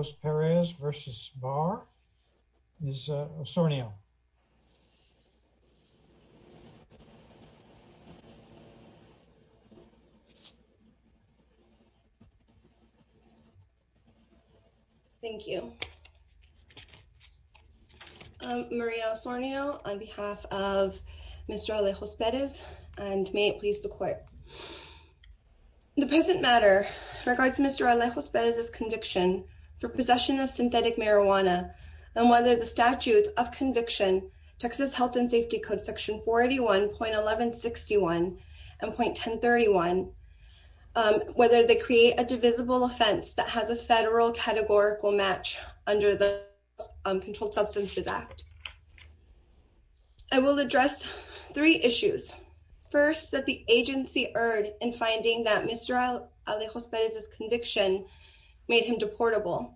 Alejos-Perez v. Barr. Ms. Osornio. Thank you. Maria Osornio on behalf of Mr. Alejos-Perez and may it please the court. The present matter regards Mr. Alejos-Perez's conviction for possession of synthetic marijuana and whether the statutes of conviction, Texas Health and Safety Code section 41.1161 and .1031, whether they create a divisible offense that has a federal categorical match under the Controlled Substances Act. I will address three issues. First, that the agency erred in finding that Mr. Alejos-Perez's conviction made him deportable.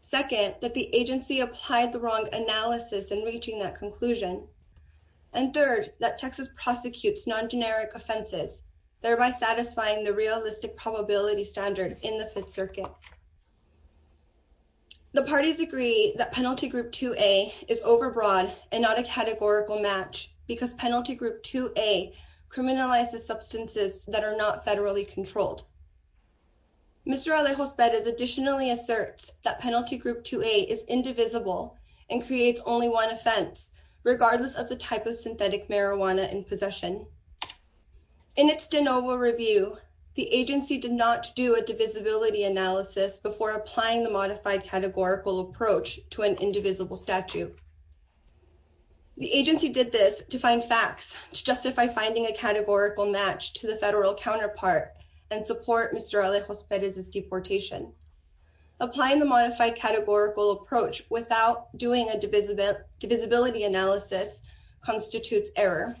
Second, that the agency applied the wrong analysis in reaching that conclusion. And third, that Texas prosecutes non-generic offenses, thereby satisfying the realistic probability standard in the Fifth Circuit. The parties agree that Penalty Group 2A is overbroad and not a categorical match because Penalty Group 2A criminalizes substances that are not federally controlled. Mr. Alejos-Perez additionally asserts that Penalty Group 2A is indivisible and creates only one offense, regardless of the type of synthetic marijuana in possession. In its de novo review, the before applying the modified categorical approach to an indivisible statute. The agency did this to find facts to justify finding a categorical match to the federal counterpart and support Mr. Alejos-Perez's deportation. Applying the modified categorical approach without doing a divisibility analysis constitutes error.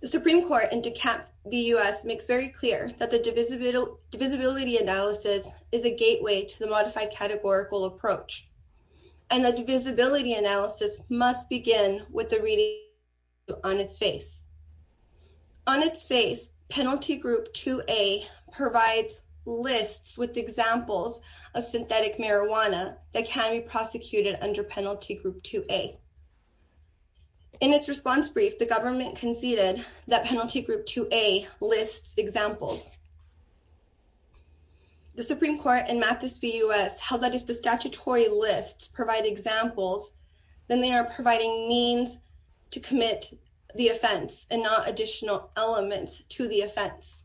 The Supreme Court in DECAP-BUS makes very clear that the divisibility analysis is a gateway to the modified categorical approach. And the divisibility analysis must begin with the reading on its face. On its face, Penalty Group 2A provides lists with examples of synthetic marijuana that can be prosecuted under Penalty Group 2A. In its response brief, the government conceded that Penalty Group 2A lists examples. The Supreme Court in MATHIS-BUS held that if the statutory lists provide examples, then they are providing means to commit the offense and not additional elements to the offense.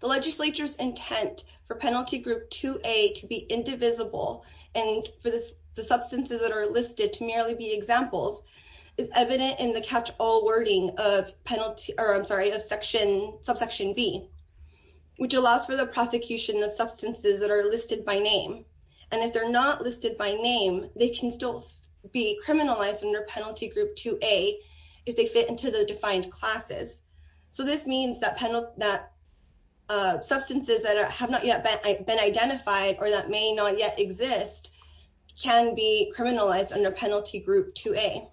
The legislature's intent for Penalty Group 2A to be indivisible and for the substances that are listed to merely be examples is evident in the catch-all wording of Penalty, or I'm sorry, of Section, Subsection B, which allows for the prosecution of substances that are listed by name. And if they're not listed by name, they can still be criminalized under Penalty Group 2A if they fit into the defined classes. So this means that substances that have not yet been identified or that may not yet exist can be criminalized under Penalty Group 2A.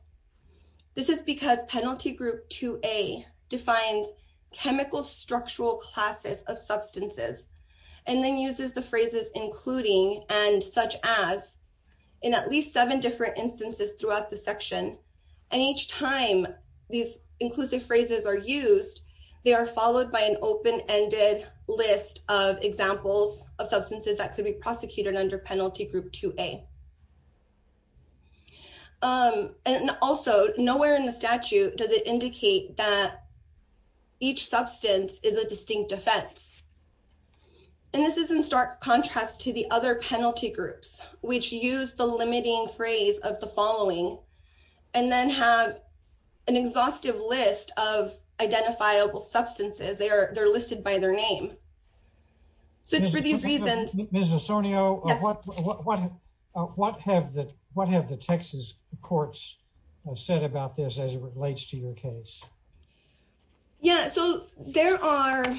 This is because Penalty Group 2A defines chemical structural classes of substances and then uses the phrases including and such as in at least seven different instances throughout the section. And each time these inclusive phrases are used, they are followed by an open-ended list of examples of substances that could be prosecuted under Penalty Group 2A. And also, nowhere in the statute does it indicate that each substance is a distinct offense. And this is in stark contrast to the other penalty groups, which use the limiting phrase of the following, and then have an exhaustive list of identifiable substances. They're listed by their name. So it's for these reasons... Ms. Osorio, what have the Texas courts said about this as it relates to your case? Yeah, so there are...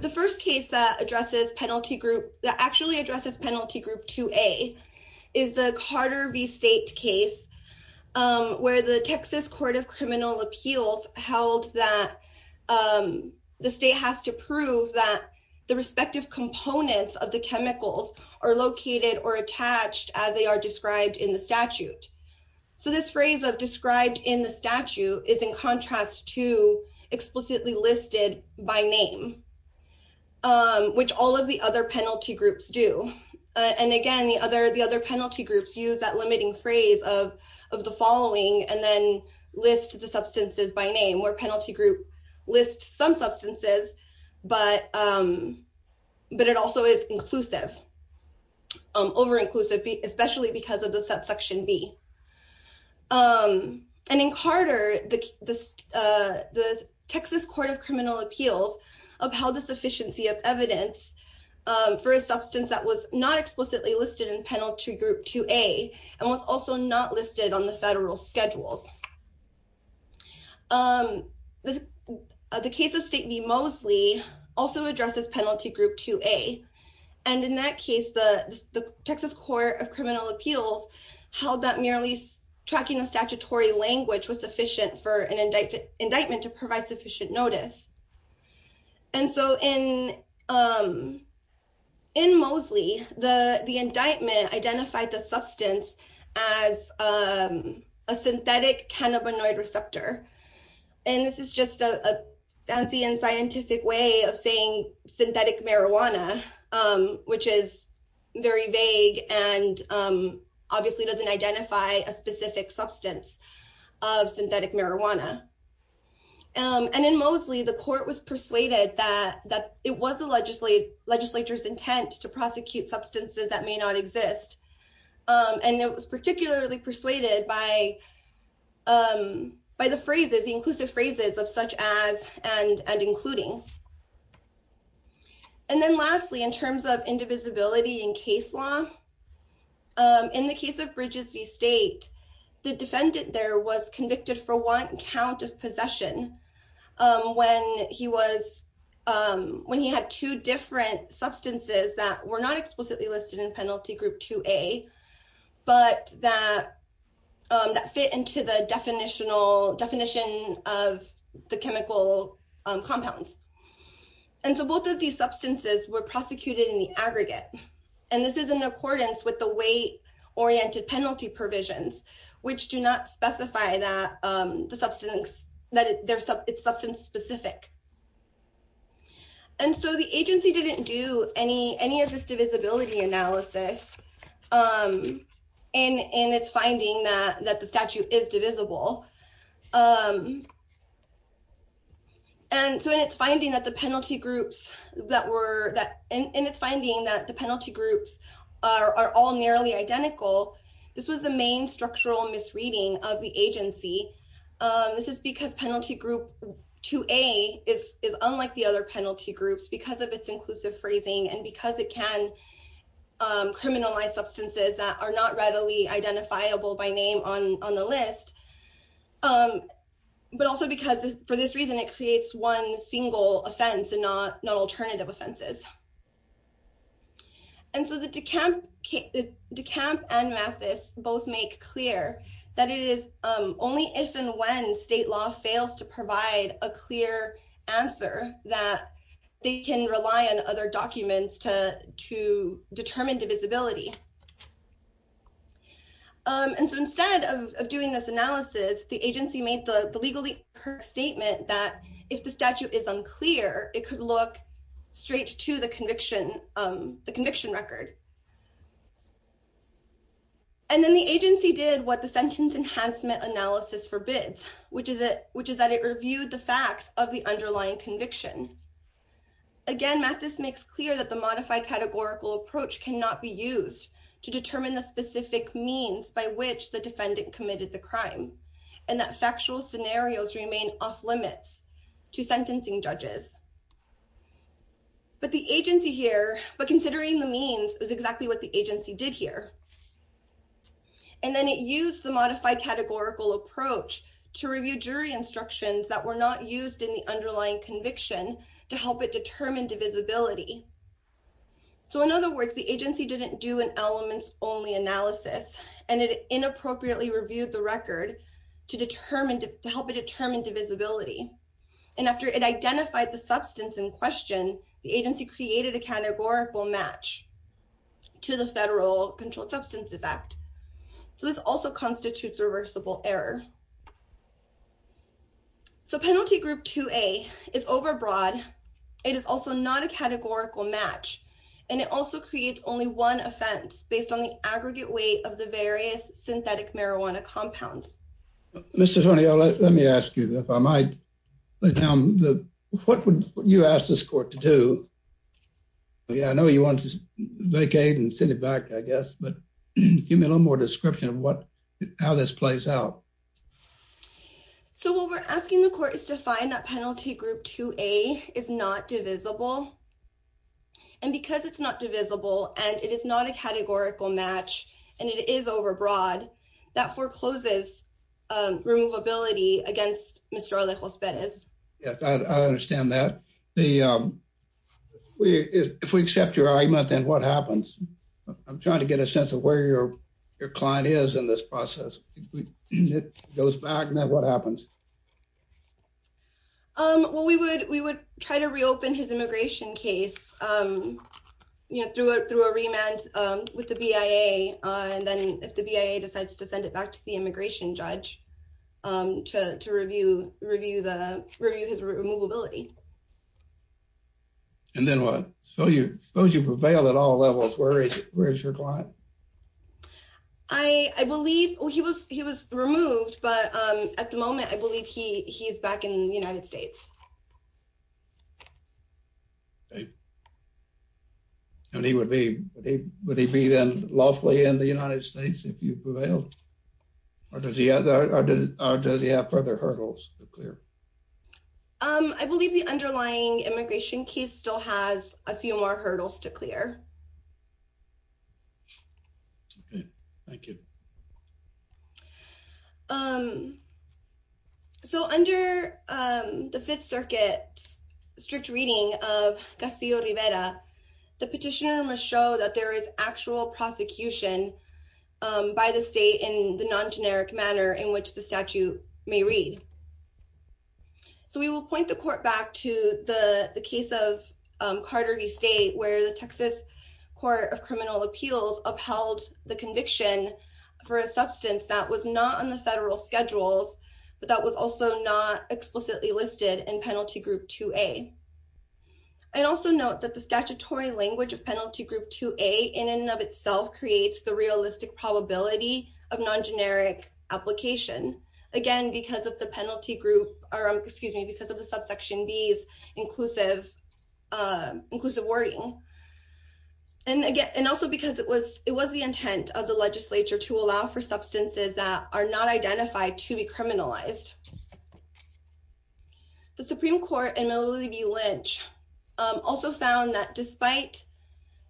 The first case that addresses Penalty Group... that actually addresses Penalty Group 2A is the Carter v. State case, where the Texas Court of Criminal Appeals held that the state has to prove that the respective components of the chemicals are located or attached as they are described in the statute. So this phrase of described in the statute is in contrast to explicitly listed by name, which all of the other penalty groups do. And again, the other penalty groups use that limiting phrase of the following, and then list the substances by name, where Penalty Group lists some substances, but it also is inclusive, over-inclusive, especially because of the subsection B. And in Carter, the Texas Court of Criminal Appeals upheld the sufficiency of evidence for a substance that was not explicitly listed in Penalty Group 2A, and was also not listed on the federal schedules. The case of State v. Mosley also addresses Penalty Group 2A, and in that case, the Texas Court of Criminal Appeals held that merely tracking the statutory language was sufficient for an indictment to provide sufficient notice. And so in Mosley, the indictment identified the cannabinoid receptor, and this is just a fancy and scientific way of saying synthetic marijuana, which is very vague and obviously doesn't identify a specific substance of synthetic marijuana. And in Mosley, the court was persuaded that it was the legislature's intent to prosecute by the inclusive phrases of such as and including. And then lastly, in terms of indivisibility in case law, in the case of Bridges v. State, the defendant there was convicted for one count of possession when he had two different substances that were not explicitly listed in Penalty Group 2A, but that fit into the definition of the chemical compounds. And so both of these substances were prosecuted in the aggregate, and this is in accordance with the weight-oriented penalty provisions, which do not specify that it's substance-specific. And so the agency didn't do any of this divisibility analysis in its finding that the statute is divisible. And so in its finding that the penalty groups are all nearly identical, this was the main structural misreading of the agency. This is because Penalty Group 2A is unlike the other penalty groups because of its inclusive phrasing and because it can identify criminalized substances that are not readily identifiable by name on the list, but also because for this reason, it creates one single offense and not alternative offenses. And so De Camp and Mathis both make clear that it is only if and when state law fails to provide a clear answer that they can rely on other documents to determine divisibility. And so instead of doing this analysis, the agency made the legal statement that if the statute is unclear, it could look straight to the conviction record. And then the agency did what the Sentence Enhancement Analysis forbids, which is that it reviewed the facts of the underlying conviction. Again, Mathis makes clear that the modified categorical approach cannot be used to determine the specific means by which the defendant committed the crime and that factual scenarios remain off-limits to sentencing judges. But considering the means, it was exactly what the agency did here. And then it used the modified categorical approach to review jury instructions that were not used in the underlying conviction to help it determine divisibility. So in other words, the agency didn't do an elements-only analysis, and it inappropriately reviewed the record to help it determine divisibility. And after it identified the substance in question, the agency created a categorical match to the Federal Controlled Substances Act. So this also constitutes reversible error. So Penalty Group 2A is overbroad. It is also not a categorical match, and it also creates only one offense based on the aggregate weight of the various synthetic marijuana compounds. Mr. Tornillo, let me ask you, if I might, what would you ask this court to do? Yeah, I know you want to vacate and send it back, I guess. But give me a little more description of how this plays out. So what we're asking the court is to find that Penalty Group 2A is not divisible. And because it's not divisible, and it is not a categorical match, and it is overbroad, that forecloses removability against Mr. Alejos Perez. Yes, I understand that. If we accept your argument, then what happens? I'm trying to get a sense of where your client is in this process. It goes back, and then what happens? Well, we would try to reopen his immigration case through a remand with the BIA. And then if the BIA decides to send it back to the immigration judge to review his removability. And then what? Suppose you prevailed at all levels, where is your client? I believe he was removed, but at the moment, I believe he's back in the United States. And he would be, would he be then lawfully in the United States if you prevailed? Or does he have further hurdles to clear? I believe the underlying immigration case still has a few more hurdles to clear. Okay, thank you. So, under the Fifth Circuit's strict reading of Castillo-Rivera, the petitioner must show that there is actual prosecution by the state in the non-generic manner in which the statute may read. So, we will point the court back to the case of Carter v. State, where the Texas Court of Criminal Appeals upheld the conviction for the case of Carter v. State. For a substance that was not on the federal schedules, but that was also not explicitly listed in Penalty Group 2A. I'd also note that the statutory language of Penalty Group 2A in and of itself creates the realistic probability of non-generic application. Again, because of the penalty group, or excuse me, because of the subsection B's inclusive wording. And again, and also because it was the intent of the legislature to allow for substances that are not identified to be criminalized. The Supreme Court in Milliview-Lynch also found that despite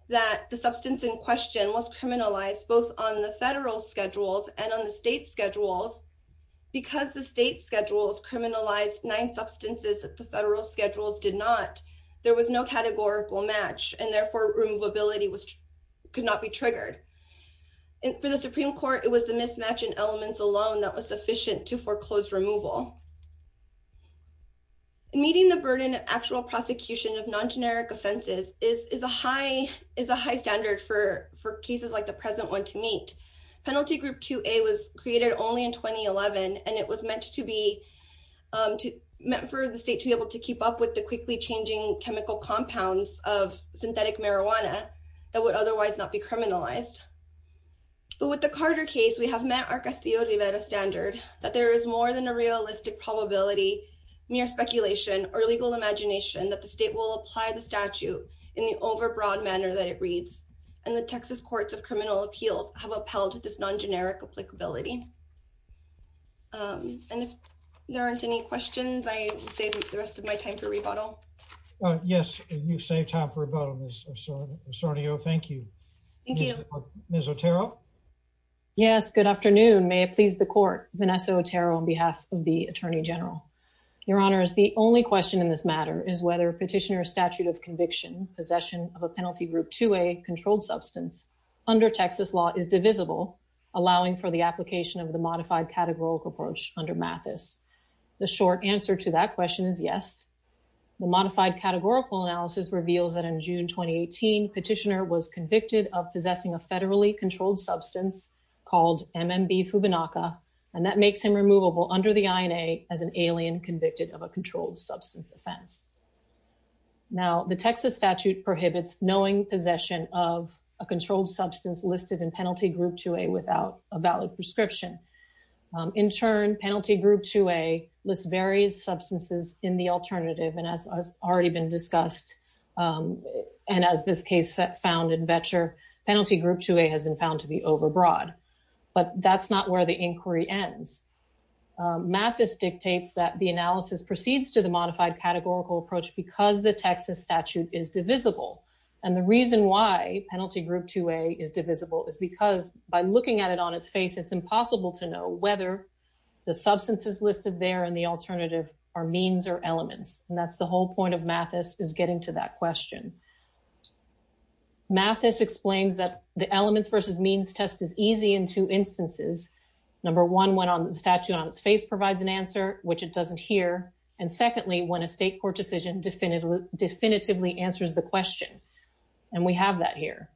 that the substance in question was criminalized both on the federal schedules and on the state schedules, because the state schedules criminalized nine substances that the federal schedules did not, there was no categorical match, and therefore, removability could not be triggered. And for the Supreme Court, it was the mismatch in elements alone that was sufficient to foreclose removal. Meeting the burden of actual prosecution of non-generic offenses is a high standard for cases like the present one to meet. Penalty Group 2A was created only in 2011, and it was meant for the state to be able to keep up with the quickly changing chemical compounds of synthetic marijuana that would otherwise not be criminalized. But with the Carter case, we have met our Castillo-Rivera standard that there is more than a realistic probability, mere speculation, or legal imagination that the state will apply the statute in the overbroad manner that it reads. And the Texas Courts of Criminal Appeals have upheld this non-generic applicability. And if there aren't any questions, I save the rest of my time for rebuttal. Yes, you saved time for rebuttal, Ms. Osorio. Thank you. Thank you. Ms. Otero? Yes, good afternoon. May it please the Court, Vanessa Otero on behalf of the Attorney General. Your Honors, the only question in this matter is whether Petitioner's statute of conviction, possession of a Penalty Group 2A controlled substance, under Texas law, is divisible, allowing for the application of the Modified Categorical Approach under Mathis. The short answer to that question is yes. The Modified Categorical Analysis reveals that in June 2018, Petitioner was convicted of possessing a federally controlled substance called MMB Fubinaca, and that makes him removable under the INA as an alien convicted of a controlled substance offense. Now, the Texas statute prohibits knowing possession of a controlled substance listed in Penalty Group 2A without a valid prescription. In turn, Penalty Group 2A lists various substances in the alternative. And as has already been discussed, and as this case found in Vetcher, Penalty Group 2A has been found to be overbroad. But that's not where the inquiry ends. Mathis dictates that the analysis proceeds to the Modified Categorical Approach because the Texas statute is divisible. And the reason why Penalty Group 2A is divisible is because by looking at it on its face, it's impossible to know whether the substances listed there in the alternative are means or elements. And that's the whole point of Mathis is getting to that question. Mathis explains that the elements versus means test is easy in two instances. Number one, when the statute on its face provides an answer, which it doesn't here. And secondly, when a state court decision definitively answers the question. And we have that here.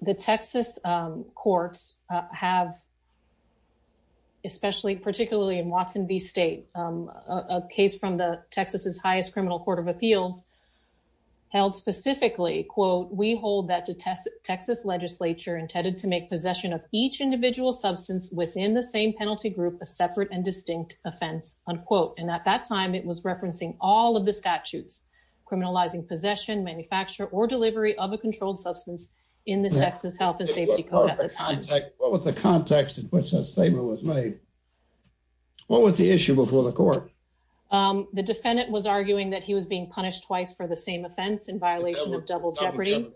The Texas courts have, especially particularly in Watson v. State, a case from the Texas's highest criminal court of appeals held specifically, quote, we hold that the Texas legislature intended to make possession of each individual substance within the same penalty group, a separate and distinct offense, unquote. And at that time, it was referencing all of the statutes, criminalizing possession, manufacture, or delivery of a controlled substance in the Texas Health and Safety Code. At the time, what was the context in which that statement was made? What was the issue before the court? The defendant was arguing that he was being punished twice for the same offense in violation of double jeopardy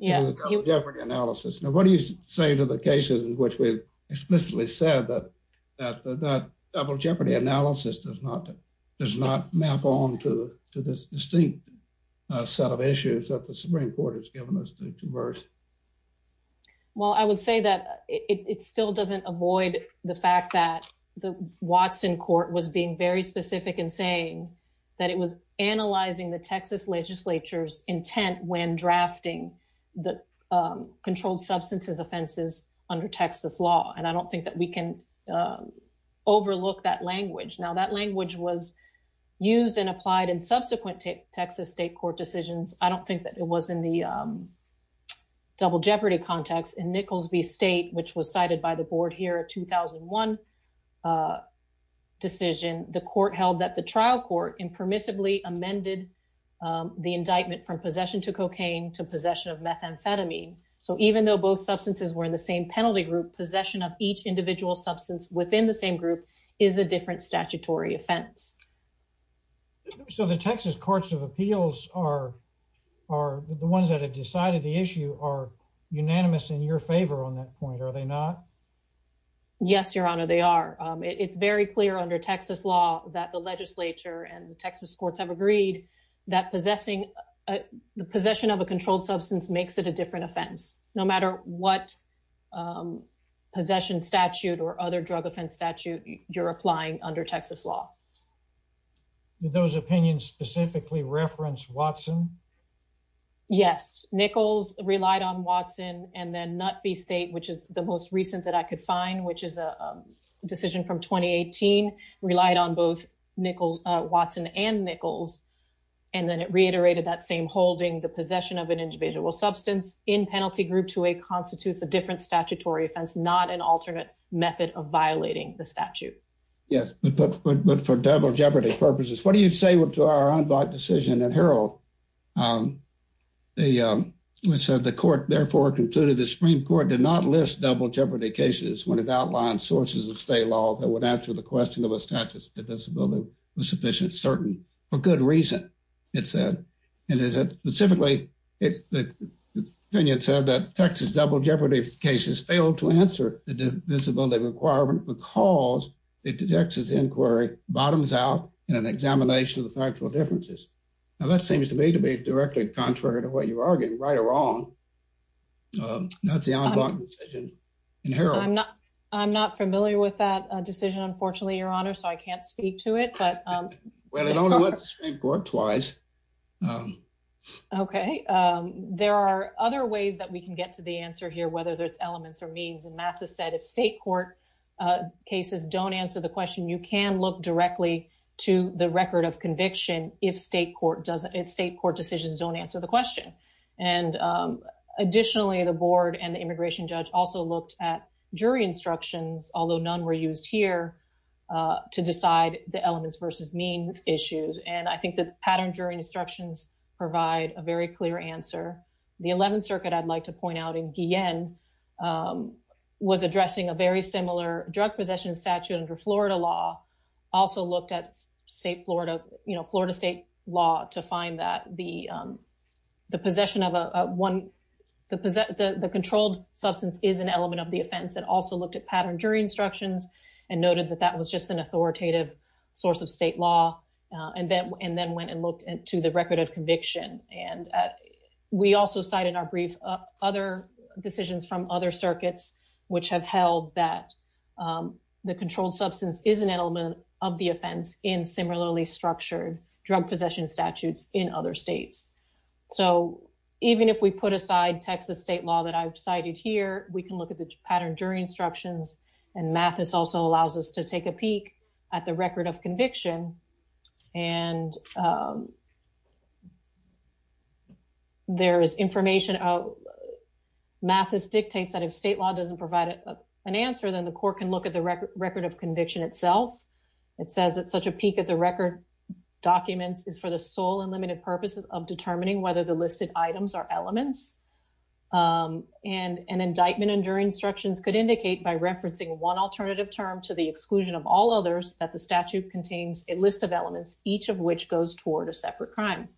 analysis. Now, what do you say to the cases in which we explicitly said that double jeopardy analysis does not map on to this distinct set of issues that the Supreme Court has given us to verse? Well, I would say that it still doesn't avoid the fact that the Watson court was being very specific in saying that it was analyzing the Texas legislature's intent when drafting the substance offenses under Texas law. And I don't think that we can overlook that language. Now, that language was used and applied in subsequent Texas state court decisions. I don't think that it was in the double jeopardy context. In Nichols v. State, which was cited by the board here, a 2001 decision, the court held that the trial court impermissibly amended the indictment from possession to cocaine to possession of methamphetamine. So even though both substances were in the same penalty group, possession of each individual substance within the same group is a different statutory offense. So the Texas courts of appeals are the ones that have decided the issue are unanimous in your favor on that point, are they not? Yes, Your Honor, they are. It's very clear under Texas law that the legislature and the Texas courts have agreed that possessing the possession of a controlled substance makes it a different offense, no matter what possession statute or other drug offense statute you're applying under Texas law. Did those opinions specifically reference Watson? Yes, Nichols relied on Watson and then Nut v. State, which is the most recent that I could and then it reiterated that same holding the possession of an individual substance in penalty group to a constitutes a different statutory offense, not an alternate method of violating the statute. Yes, but for double jeopardy purposes, what do you say to our unblocked decision in Herald? They said the court therefore concluded the Supreme Court did not list double jeopardy cases when it outlined sources of state law that would answer the question of a divisibility was sufficient, certain, for good reason, it said. And specifically, the opinion said that Texas double jeopardy cases failed to answer the divisibility requirement because the Texas inquiry bottoms out in an examination of the factual differences. Now, that seems to me to be directly contrary to what you're arguing, right or wrong. That's the unblocked decision in Herald. I'm not familiar with that decision, unfortunately, Your Honor, so I can't speak to it. Well, it only went to the Supreme Court twice. Okay, there are other ways that we can get to the answer here, whether there's elements or means and Mathis said if state court cases don't answer the question, you can look directly to the record of conviction if state court decisions don't answer the question. And additionally, the board and the immigration judge also looked at jury instructions, although none were used here to decide the elements versus means issues. And I think the pattern jury instructions provide a very clear answer. The 11th Circuit, I'd like to point out in Guillen was addressing a very similar drug possession statute under Florida law, also looked at Florida state law to find that the controlled substance is an element of the offense and also looked at pattern jury instructions and noted that that was just an authoritative source of state law and then went and looked into the record of conviction. And we also cite in our brief other decisions from other circuits, which have held that the controlled substance is an element of the offense in similarly structured drug possession statutes in other states. So even if we put aside Texas state law that I've cited here, we can look at the pattern jury instructions and Mathis also allows us to take a peek at the record of conviction. And there is information, Mathis dictates that if state doesn't provide an answer, then the court can look at the record of conviction itself. It says that such a peek at the record documents is for the sole and limited purposes of determining whether the listed items are elements. And an indictment under instructions could indicate by referencing one alternative term to the exclusion of all others that the statute contains a list of elements, each of which goes toward a separate crime.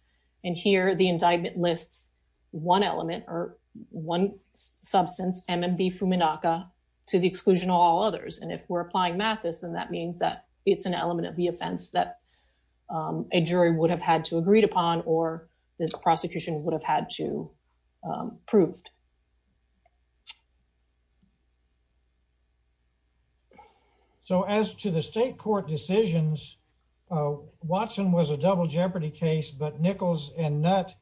And here the indictment lists one element or one substance, MMB Fuminaca, to the exclusion of all others. And if we're applying Mathis, then that means that it's an element of the offense that a jury would have had to agree upon or the prosecution would have had to prove. So as to the state court decisions, Watson was a double jeopardy case, but Nichols and Nutt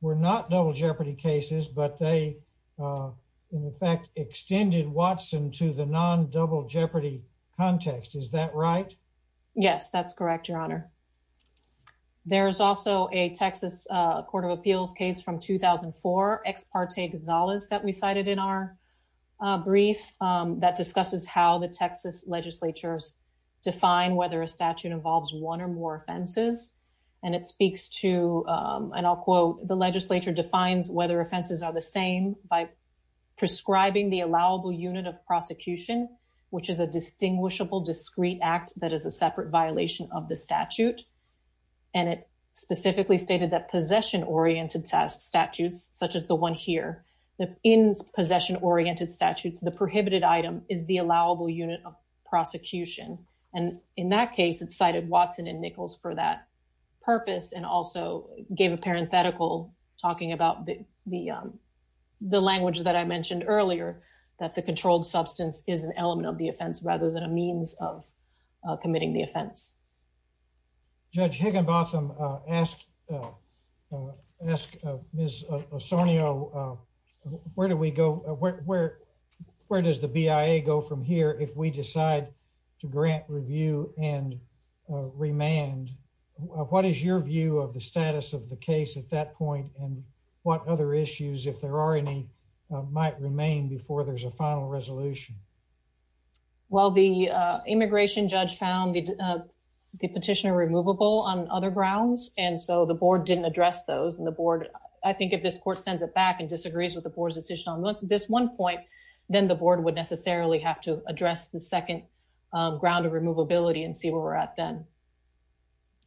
were not double jeopardy cases, but they, in fact, extended Watson to the non-double jeopardy context. Is that right? Yes, that's correct, Your Honor. There is also a Texas Court of Appeals case from 2004, Ex Parte Exalus, that we cited in our brief that discusses how the Texas legislatures define whether a statute involves one or more offenses. And it speaks to and I'll quote, the legislature defines whether offenses are the same by prescribing the allowable unit of prosecution, which is a distinguishable discrete act that is a separate violation of the statute. And it specifically stated that possession-oriented statutes, such as the one here, in possession-oriented statutes, the prohibited item is the allowable unit of prosecution. And in that case, it cited Watson and Nichols for that purpose and also gave a parenthetical talking about the language that I mentioned earlier, that the controlled substance is an element of the offense rather than a means of committing the offense. Judge Higginbotham, ask Ms. Osorio, where do we go? Where does the BIA go from here if we decide to grant review and remand? What is your view of the status of the case at that point? And what other issues, if there are any, might remain before there's a final resolution? Well, the immigration judge found the petitioner removable on other grounds, and so the board didn't address those. And the board, I think if this court sends it back and disagrees with the board's decision on this one point, then the board would necessarily have to address the second ground of removability and see where we're at then.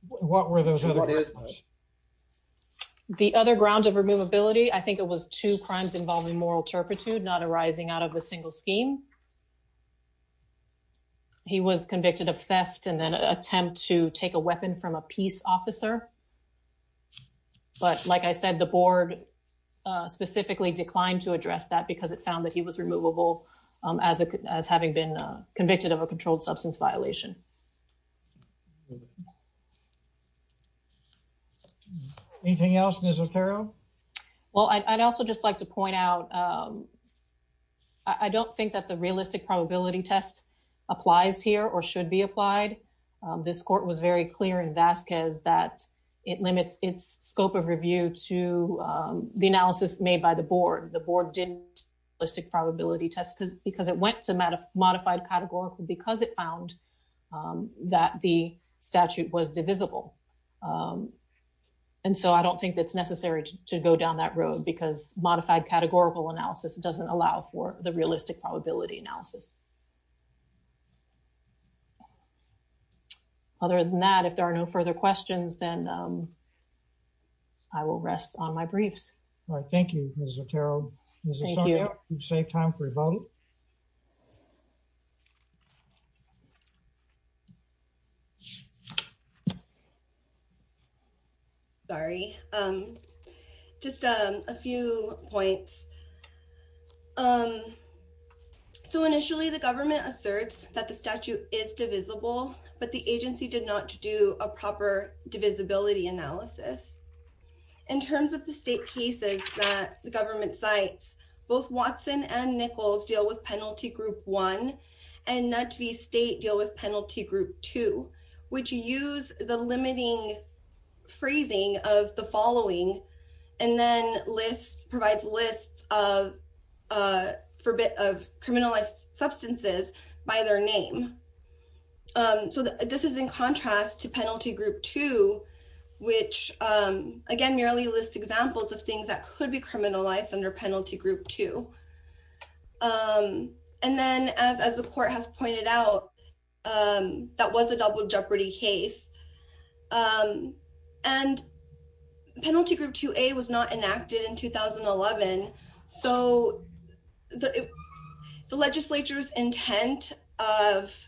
What were those other grounds? The other ground of removability, I think it was two crimes involving moral turpitude not arising out of a single scheme. He was convicted of theft and then an attempt to take a weapon from a peace officer. But like I said, the board specifically declined to address that because it found that he was removable as having been convicted of a controlled substance violation. Anything else, Ms. Otero? Well, I'd also just like to point out, I don't think that there's a realistic probability test applies here or should be applied. This court was very clear in Vasquez that it limits its scope of review to the analysis made by the board. The board didn't do a realistic probability test because it went to modified categorical because it found that the statute was divisible. And so I don't think that's necessary to go down that road because modified categorical analysis doesn't allow for the realistic probability analysis. Other than that, if there are no further questions, then I will rest on my briefs. All right. Thank you, Ms. Otero. Ms. Assange, you've saved time for your vote. Sorry, just a few points. So initially, the government asserts that the statute is divisible, but the agency did not do a proper divisibility analysis. In terms of the state cases that the Penalty Group 1 and NUTV State deal with Penalty Group 2, which use the limiting phrasing of the following and then provides lists of criminalized substances by their name. So this is in contrast to Penalty Group 2, which, again, merely lists examples of things that could criminalized under Penalty Group 2. And then as the court has pointed out, that was a double jeopardy case. And Penalty Group 2A was not enacted in 2011. So the legislature's intent of the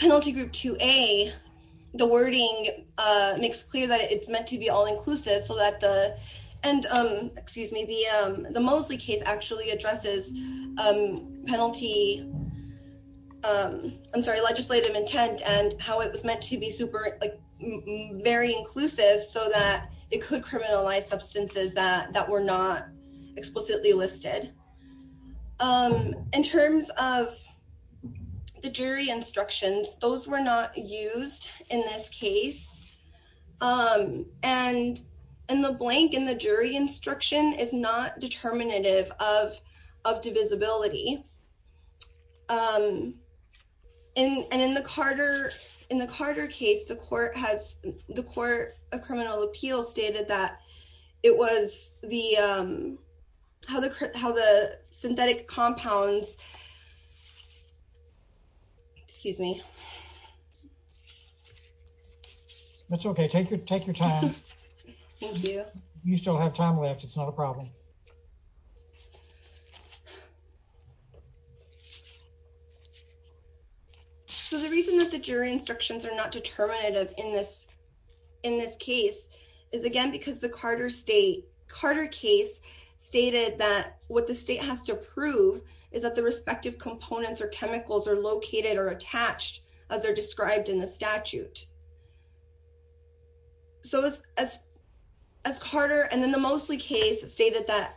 Penalty Group 2A, the wording makes clear that it's meant to be all-inclusive. And the Moseley case actually addresses legislative intent and how it was meant to be very inclusive so that it could criminalize substances that were not explicitly listed. In terms of the jury instructions, those were not used in this case. And the blank in the jury instruction is not determinative of divisibility. And in the Carter case, the Court of Criminal Appeals stated that it was the, how the, how the synthetic compounds, excuse me. That's okay. Take your, take your time. You still have time left. It's not a problem. So the reason that the jury instructions are not determinative in this, in this case is again because the Carter state, Carter case stated that what the state has to prove is that the respective components or chemicals are located or attached as they're described in the statute. So as Carter and then the Moseley case stated that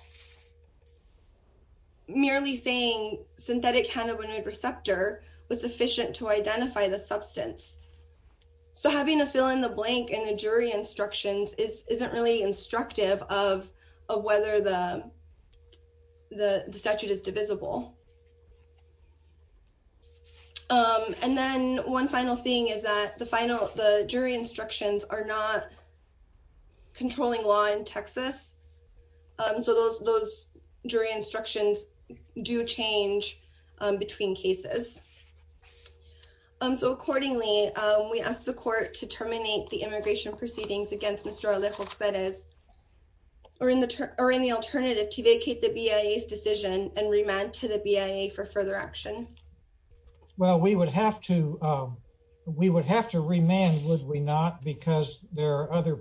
merely saying synthetic cannabinoid receptor was sufficient to identify the substance. So having to fill in the blank in the jury instructions is, isn't really instructive of, of whether the, the statute is divisible. And then one final thing is that the final, the jury instructions are not controlling law in Texas. So those, those jury instructions do change between cases. So accordingly, we ask the court to terminate the immigration proceedings against Mr. Alejo-Spedez or in the, or in the alternative to vacate the BIA's decision and remand to the BIA for further action. Well, we would have to, we would have to remand, would we not? Because there are other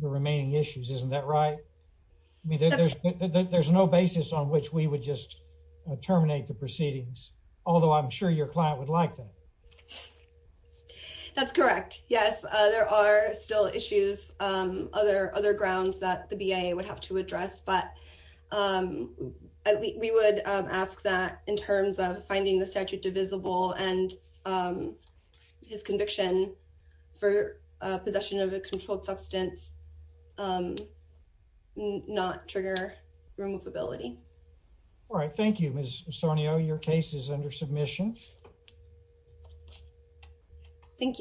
remaining issues, isn't that right? I mean, there's, there's no basis on which we would just terminate the proceedings. Although I'm sure your client would like that. That's correct. Yes. There are still issues, other, other grounds that the BIA would have to address, but we would ask that in terms of finding the statute divisible and his conviction for possession of a controlled substance not trigger removability. All right. Thank you, Ms. Misonio. Your case is under submission. Thank you.